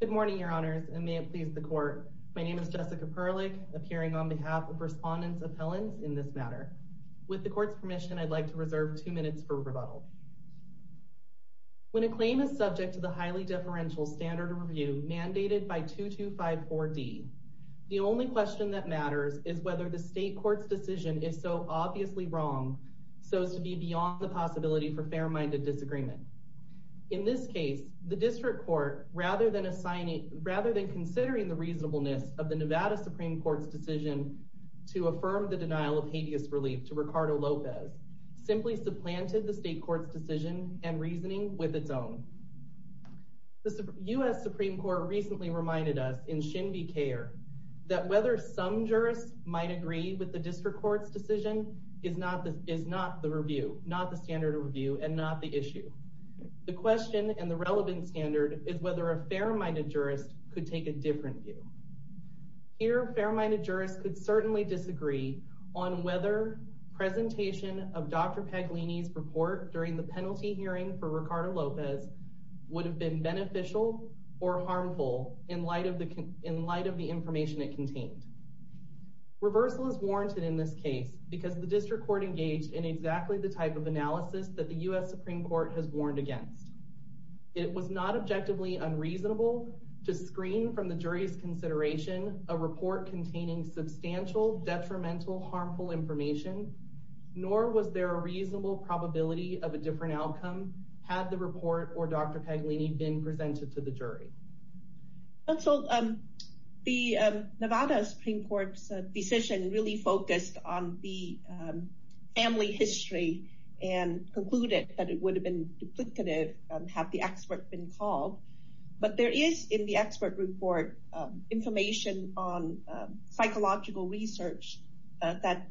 Good morning, Your Honors, and may it please the Court. My name is Jessica Perlich, appearing on behalf of Respondents' Appellants in this matter. With the Court's permission, I'd like to reserve two minutes for rebuttal. When a claim is subject to the highly deferential standard of review mandated by 2254D, the only question that matters is whether the State Court's decision is so obviously wrong so as to be beyond the possibility for fair-minded disagreement. In this case, the District Court, rather than considering the reasonableness of the Nevada Supreme Court's decision to affirm the denial of habeas relief to Ricardo Lopez, simply supplanted the State Court's decision and reasoning with its own. The U.S. Supreme Court recently reminded us in Shinbi C.A.R. that whether some jurists might agree with the District Court's decision is not the standard of review and not the issue. The question and the relevant standard is whether a fair-minded jurist could take a different view. Here, fair-minded jurists could certainly disagree on whether presentation of Dr. Paglini's report during the penalty hearing for Ricardo Lopez would have been beneficial or harmful in light of the information it contained. Reversal is warranted in this case because the District Court engaged in exactly the type of analysis that the U.S. Supreme Court has warned against. It was not objectively unreasonable to screen from the jury's consideration a report containing substantial detrimental harmful information, nor was there a reasonable probability of a different outcome had the report or Dr. Paglini been presented to the jury. The Nevada Supreme Court's decision really focused on the family history and concluded that it would have been duplicative had the expert been called. But there is, in the expert report, information on psychological research that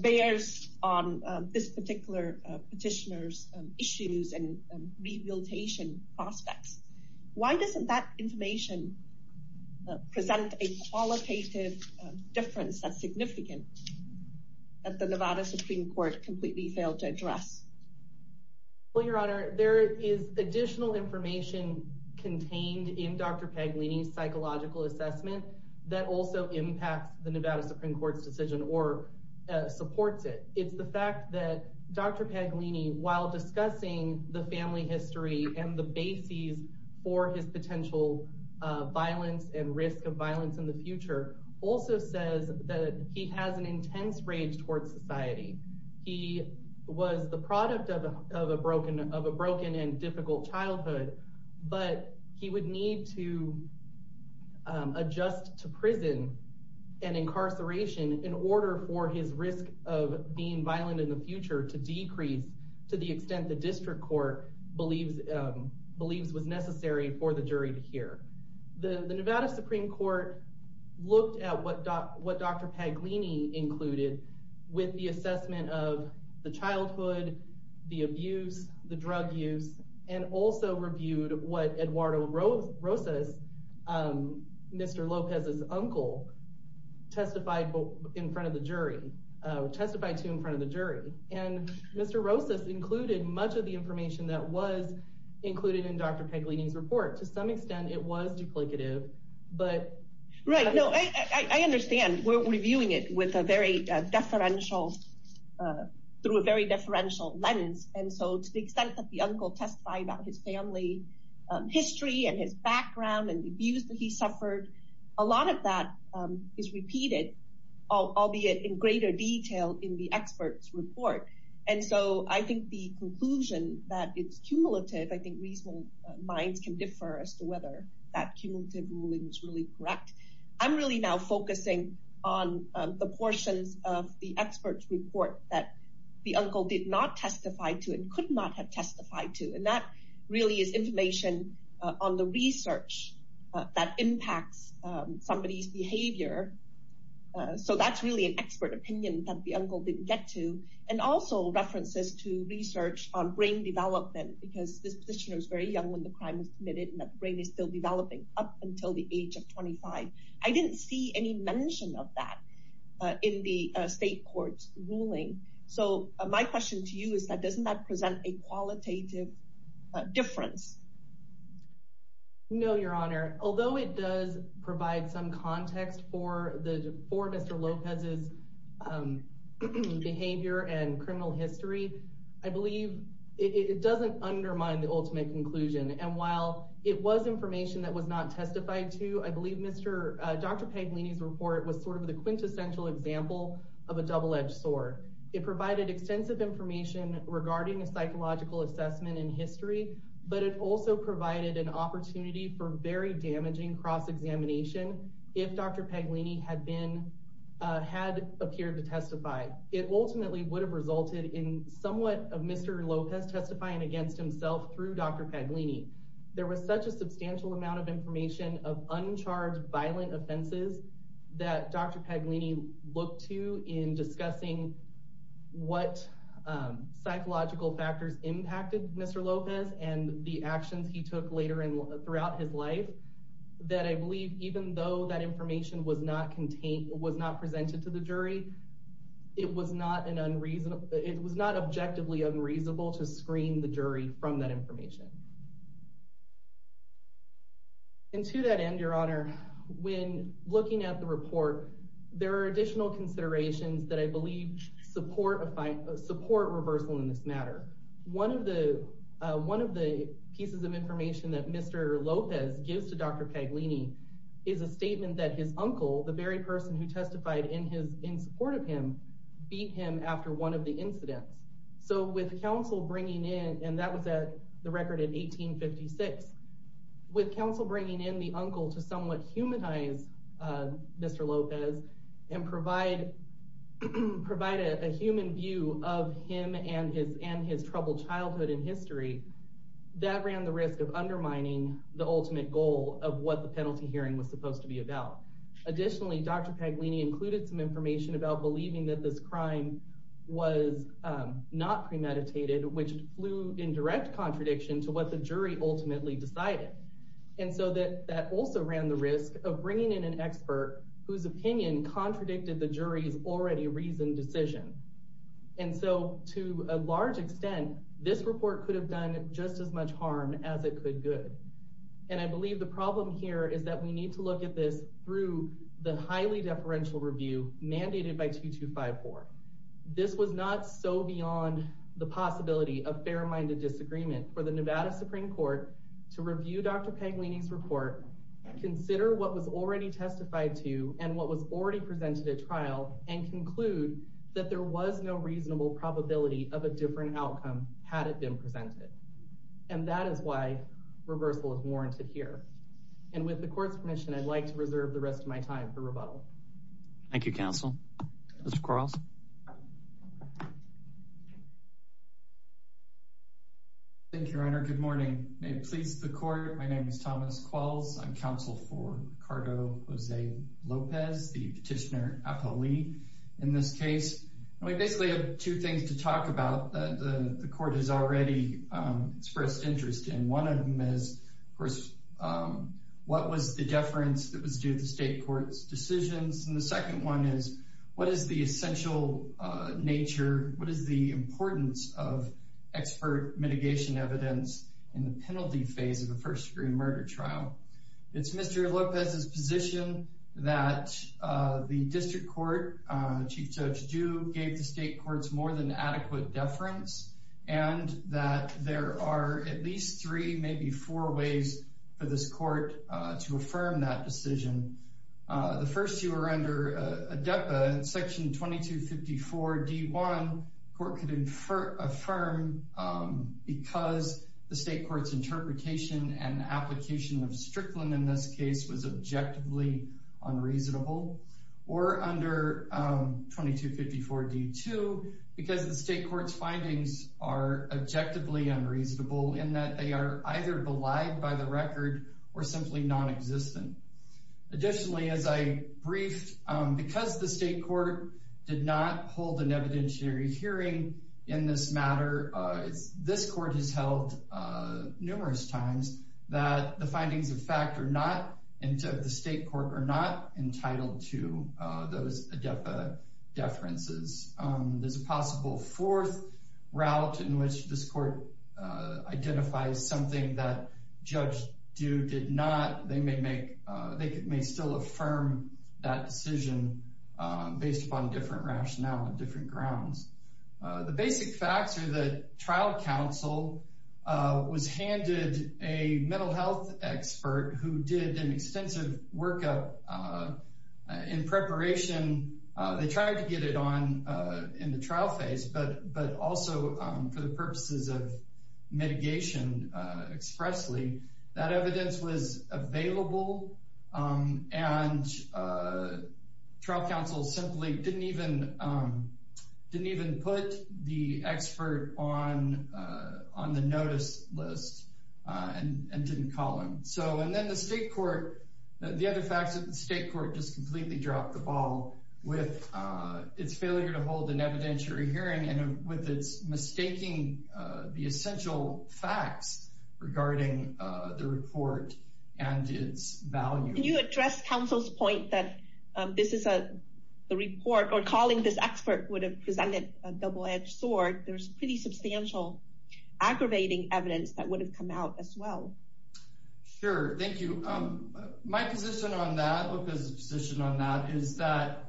bears on this particular petitioner's issues and rehabilitation prospects. Why doesn't that information present a qualitative difference that's significant that the Nevada Supreme Court completely failed to address? Well, Your Honor, there is additional information contained in Dr. Paglini's psychological assessment that also impacts the Nevada Supreme Court's decision or supports it. It's the fact that Dr. Paglini, while discussing the family history and the bases for his potential violence and risk of violence in the future, also says that he has an intense rage towards society. He was the product of a broken and difficult childhood, but he would need to adjust to prison and incarceration in order for his risk of being violent in the future to decrease to the extent the district court believes was necessary for the jury to hear. The Nevada Supreme Court looked at what Dr. Paglini included with the assessment of the childhood, the abuse, the drug use, and also reviewed what Eduardo Rosas, Mr. Lopez's uncle, testified to in front of the jury. And Mr. Rosas included much of the information that was included in Dr. Paglini's report. To some extent, it was duplicative, but... And so I think the conclusion that it's cumulative, I think reasonable minds can differ as to whether that cumulative ruling is really correct. I'm really now focusing on the portions of the expert's report that the uncle did not testify to and could not have testified to. And that really is information on the research that impacts somebody's behavior. So that's really an expert opinion that the uncle didn't get to. And also references to research on brain development, because this position was very young when the crime was committed and the brain is still developing up until the age of 25. I didn't see any mention of that in the state court's ruling. So my question to you is that doesn't that present a qualitative difference? No, Your Honor. Although it does provide some context for Mr. Lopez's behavior and criminal history, I believe it doesn't undermine the ultimate conclusion. And while it was information that was not testified to, I believe Dr. Paglini's report was sort of the quintessential example of a double-edged sword. It provided extensive information regarding a psychological assessment in history, but it also provided an opportunity for very damaging cross-examination if Dr. Paglini had appeared to testify. It ultimately would have resulted in somewhat of Mr. Lopez testifying against himself through Dr. Paglini. There was such a substantial amount of information of uncharged violent offenses that Dr. Paglini looked to in discussing what psychological factors impacted Mr. Lopez and the actions he took later throughout his life. That I believe even though that information was not presented to the jury, it was not objectively unreasonable to screen the jury from that information. And to that end, Your Honor, when looking at the report, there are additional considerations that I believe support reversal in this matter. One of the pieces of information that Mr. Lopez gives to Dr. Paglini is a statement that his uncle, the very person who testified in support of him, beat him after one of the incidents. So with counsel bringing in, and that was at the record in 1856, with counsel bringing in the uncle to somewhat humanize Mr. Lopez and provide a human view of him and his troubled childhood and history, that ran the risk of undermining the ultimate goal of what the penalty hearing was supposed to be about. Additionally, Dr. Paglini included some information about believing that this crime was not premeditated, which flew in direct contradiction to what the jury ultimately decided. And so that also ran the risk of bringing in an expert whose opinion contradicted the jury's already reasoned decision. And so to a large extent, this report could have done just as much harm as it could good. And I believe the problem here is that we need to look at this through the highly deferential review mandated by 2254. This was not so beyond the possibility of fair-minded disagreement for the Nevada Supreme Court to review Dr. Paglini's report, consider what was already testified to and what was already presented at trial, and conclude that there was no reasonable probability of a different outcome had it been presented. And that is why reversal is warranted here. And with the court's permission, I'd like to reserve the rest of my time for rebuttal. Thank you, counsel. Mr. Quarles. Thank you, Your Honor. Good morning. May it please the court. My name is Thomas Quarles. I'm counsel for Ricardo Jose Lopez, the petitioner, Apolli, in this case. And we basically have two things to talk about that the court has already expressed interest in. One of them is, of course, what was the deference that was due to the state court's decisions? And the second one is, what is the essential nature, what is the importance of expert mitigation evidence in the penalty phase of a first-degree murder trial? It's Mr. Lopez's position that the district court, Chief Judge Ju, gave the state court's more than adequate deference, and that there are at least three, maybe four, ways for this court to affirm that decision. The first two are under ADEPA. In Section 2254 D.1, the court could affirm because the state court's interpretation and application of Strickland in this case was objectively unreasonable. Or under 2254 D.2, because the state court's findings are objectively unreasonable in that they are either belied by the record or simply nonexistent. Additionally, as I briefed, because the state court did not hold an evidentiary hearing in this matter, this court has held numerous times that the findings of fact are not, that the state court are not entitled to those ADEPA deferences. There's a possible fourth route in which this court identifies something that Judge Ju did not. They may still affirm that decision based upon different rationale and different grounds. The basic facts are that trial counsel was handed a mental health expert who did an extensive workup in preparation. They tried to get it on in the trial phase, but also for the purposes of mitigation expressly, that evidence was available, and trial counsel simply didn't even put the expert on the notice list and didn't call him. So, and then the state court, the other facts of the state court just completely dropped the ball with its failure to hold an evidentiary hearing and with its mistaking the essential facts regarding the report and its value. Can you address counsel's point that this is a report or calling this expert would have presented a double edged sword? There's pretty substantial aggravating evidence that would have come out as well. Sure. Thank you. My position on that, Luca's position on that, is that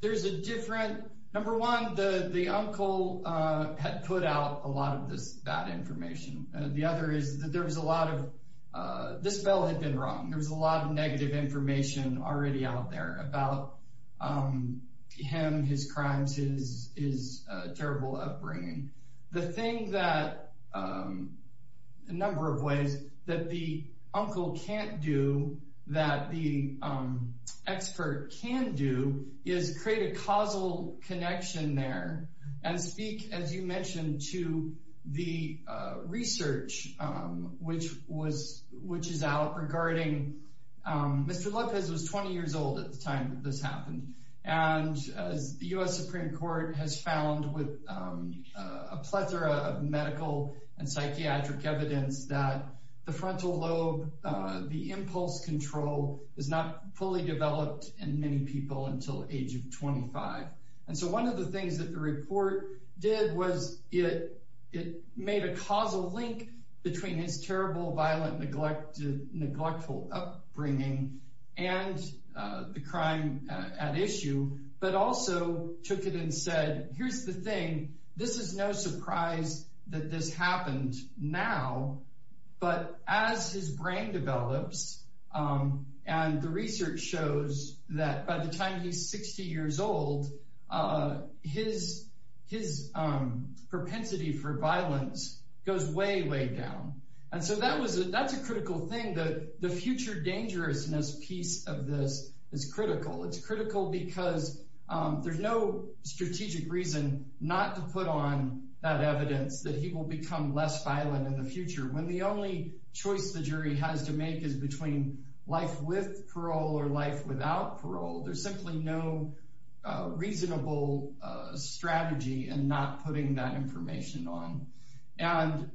there's a different, number one, the uncle had put out a lot of this bad information. The other is that there was a lot of, this bill had been wrong. There was a lot of negative information already out there about him, his crimes, his terrible upbringing. The thing that, a number of ways that the uncle can't do, that the expert can do, is create a causal connection there and speak, as you mentioned, to the research, which was, which is out regarding, Mr. A plethora of medical and psychiatric evidence that the frontal lobe, the impulse control is not fully developed in many people until age of 25. And so one of the things that the report did was it, it made a causal link between his terrible, violent, neglected, neglectful upbringing and the crime at issue, but also took it and said, here's the thing. This is no surprise that this happened now, but as his brain develops, and the research shows that by the time he's 60 years old, his propensity for violence goes way, way down. And so that was, that's a critical thing that the future dangerousness piece of this is critical. It's critical because there's no strategic reason not to put on that evidence that he will become less violent in the future when the only choice the jury has to make is between life with parole or life without parole. There's simply no reasonable strategy in not putting that information on. And,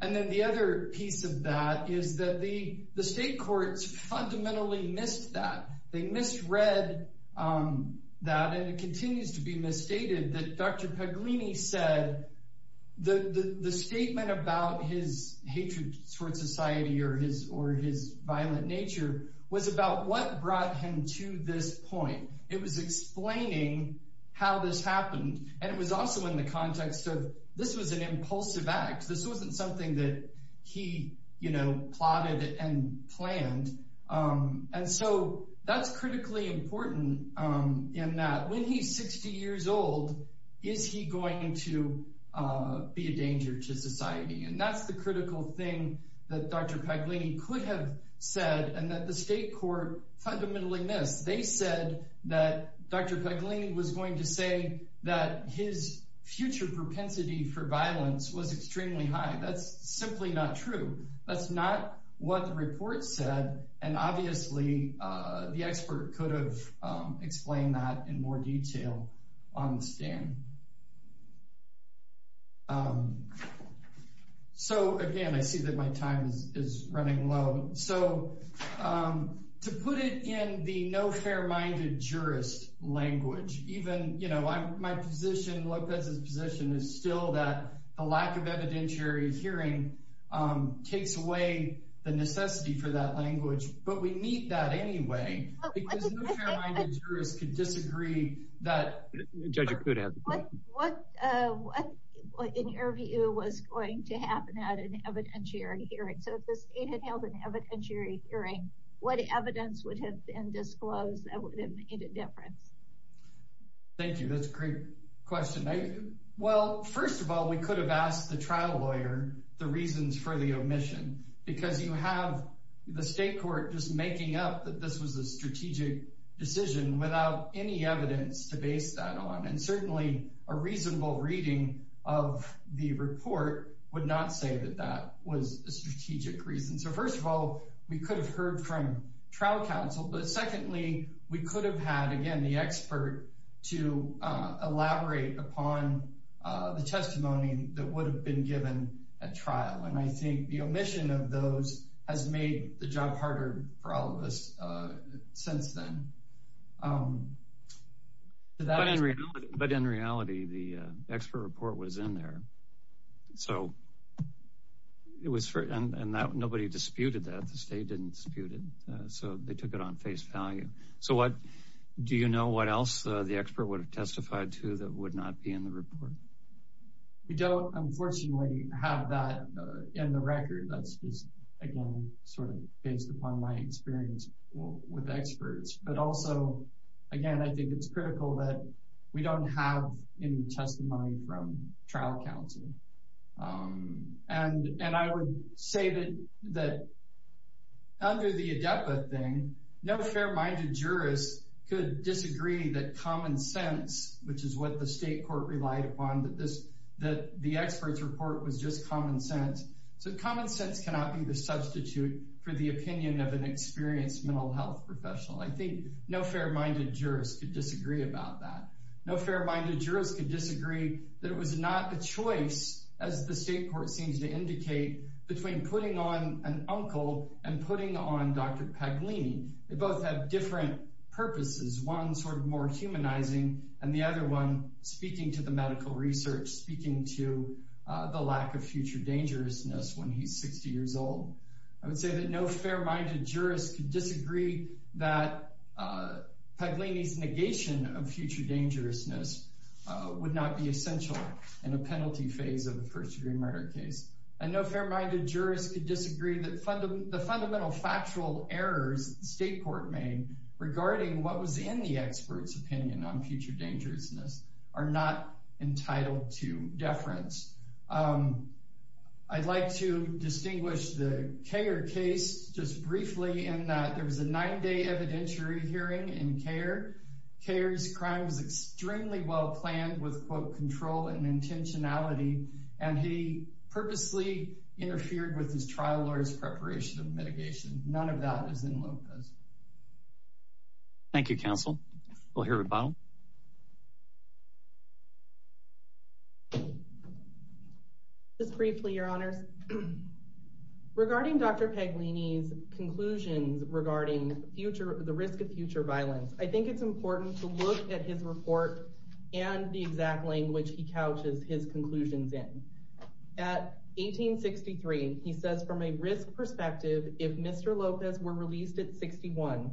and then the other piece of that is that the, the state courts fundamentally missed that. They misread that and it continues to be misstated that Dr. Paglini said the statement about his hatred towards society or his, or his violent nature was about what brought him to this point. It was explaining how this happened. And it was also in the context of this was an impulsive act. This wasn't something that he, you know, plotted and planned. And so that's critically important in that when he's 60 years old, is he going to be a danger to society? And that's the critical thing that Dr. Paglini could have said and that the state court fundamentally missed. They said that Dr. Paglini was going to say that his future propensity for violence was extremely high. That's simply not true. That's not what the report said. And obviously the expert could have explained that in more detail on the stand. So again, I see that my time is running low. So to put it in the no fair-minded jurist language, even, you know, my position, Lopez's position is still that the lack of evidentiary hearing takes away the necessity for that language. But we need that anyway, because no fair-minded jurist could disagree that. What in your view was going to happen at an evidentiary hearing? So if the state had held an evidentiary hearing, what evidence would have been disclosed that would have made a difference? Thank you. That's a great question. Well, first of all, we could have asked the trial lawyer the reasons for the omission, because you have the state court just making up that this was a strategic decision without any evidence to base that on. And certainly a reasonable reading of the report would not say that that was a strategic reason. So first of all, we could have heard from trial counsel. But secondly, we could have had, again, the expert to elaborate upon the testimony that would have been given at trial. And I think the omission of those has made the job harder for all of us since then. But in reality, the expert report was in there. And nobody disputed that. The state didn't dispute it. So they took it on face value. So do you know what else the expert would have testified to that would not be in the report? We don't, unfortunately, have that in the record. That's just, again, sort of based upon my experience with experts. But also, again, I think it's critical that we don't have any testimony from trial counsel. And I would say that under the ADEPA thing, no fair-minded jurist could disagree that common sense, which is what the state court relied upon, that the experts report was just common sense. So common sense cannot be the substitute for the opinion of an experienced mental health professional. I think no fair-minded jurist could disagree about that. No fair-minded jurist could disagree that it was not a choice, as the state court seems to indicate, between putting on an uncle and putting on Dr. Paglini. They both have different purposes, one sort of more humanizing and the other one speaking to the medical research, speaking to the lack of future dangerousness when he's 60 years old. I would say that no fair-minded jurist could disagree that Paglini's negation of future dangerousness would not be essential in a penalty phase of a first-degree murder case. And no fair-minded jurist could disagree that the fundamental factual errors the state court made regarding what was in the expert's opinion on future dangerousness are not entitled to deference. I'd like to distinguish the Kher case just briefly in that there was a nine-day evidentiary hearing in Kher. Kher's crime was extremely well-planned with, quote, control and intentionality, and he purposely interfered with his trial lawyer's preparation of mitigation. None of that is in Lopez. Thank you, counsel. We'll hear from Bonham. Just briefly, Your Honors. Regarding Dr. Paglini's conclusions regarding the risk of future violence, I think it's important to look at his report and the exact language he couches his conclusions in. At 1863, he says, from a risk perspective, if Mr. Lopez were released at 61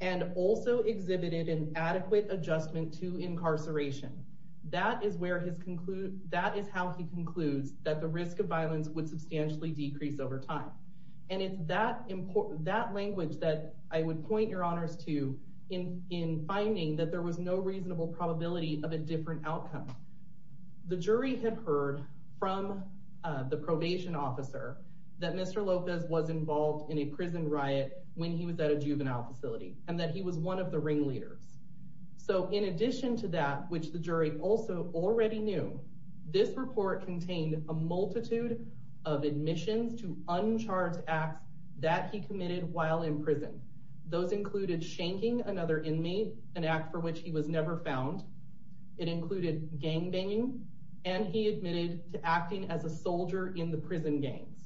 and also exhibited an adequate adjustment to incarceration, that is how he concludes that the risk of violence would substantially decrease over time. And it's that language that I would point Your Honors to in finding that there was no reasonable probability of a different outcome. The jury had heard from the probation officer that Mr. Lopez was involved in a prison riot when he was at a juvenile facility and that he was one of the ringleaders. So in addition to that, which the jury also already knew, this report contained a multitude of admissions to uncharged acts that he committed while in prison. Those included shanking another inmate, an act for which he was never found. It included gang banging, and he admitted to acting as a soldier in the prison gangs.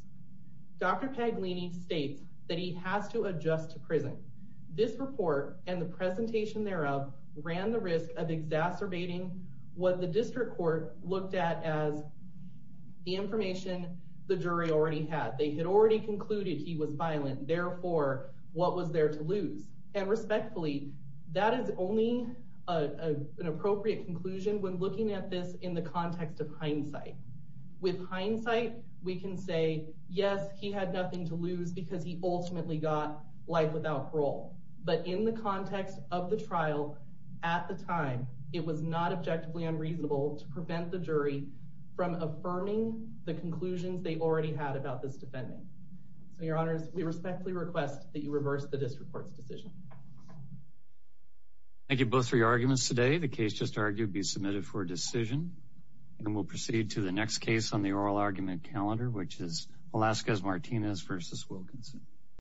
Dr. Paglini states that he has to adjust to prison. This report and the presentation thereof ran the risk of exacerbating what the district court looked at as the information the jury already had. They had already concluded he was violent. Therefore, what was there to lose? And respectfully, that is only an appropriate conclusion when looking at this in the context of hindsight. With hindsight, we can say, yes, he had nothing to lose because he ultimately got life without parole. But in the context of the trial at the time, it was not objectively unreasonable to prevent the jury from affirming the conclusions they already had about this defendant. So your honors, we respectfully request that you reverse the district court's decision. Thank you both for your arguments today. The case just argued be submitted for decision and will proceed to the next case on the oral argument calendar, which is Alaska's Martinez versus Wilkinson.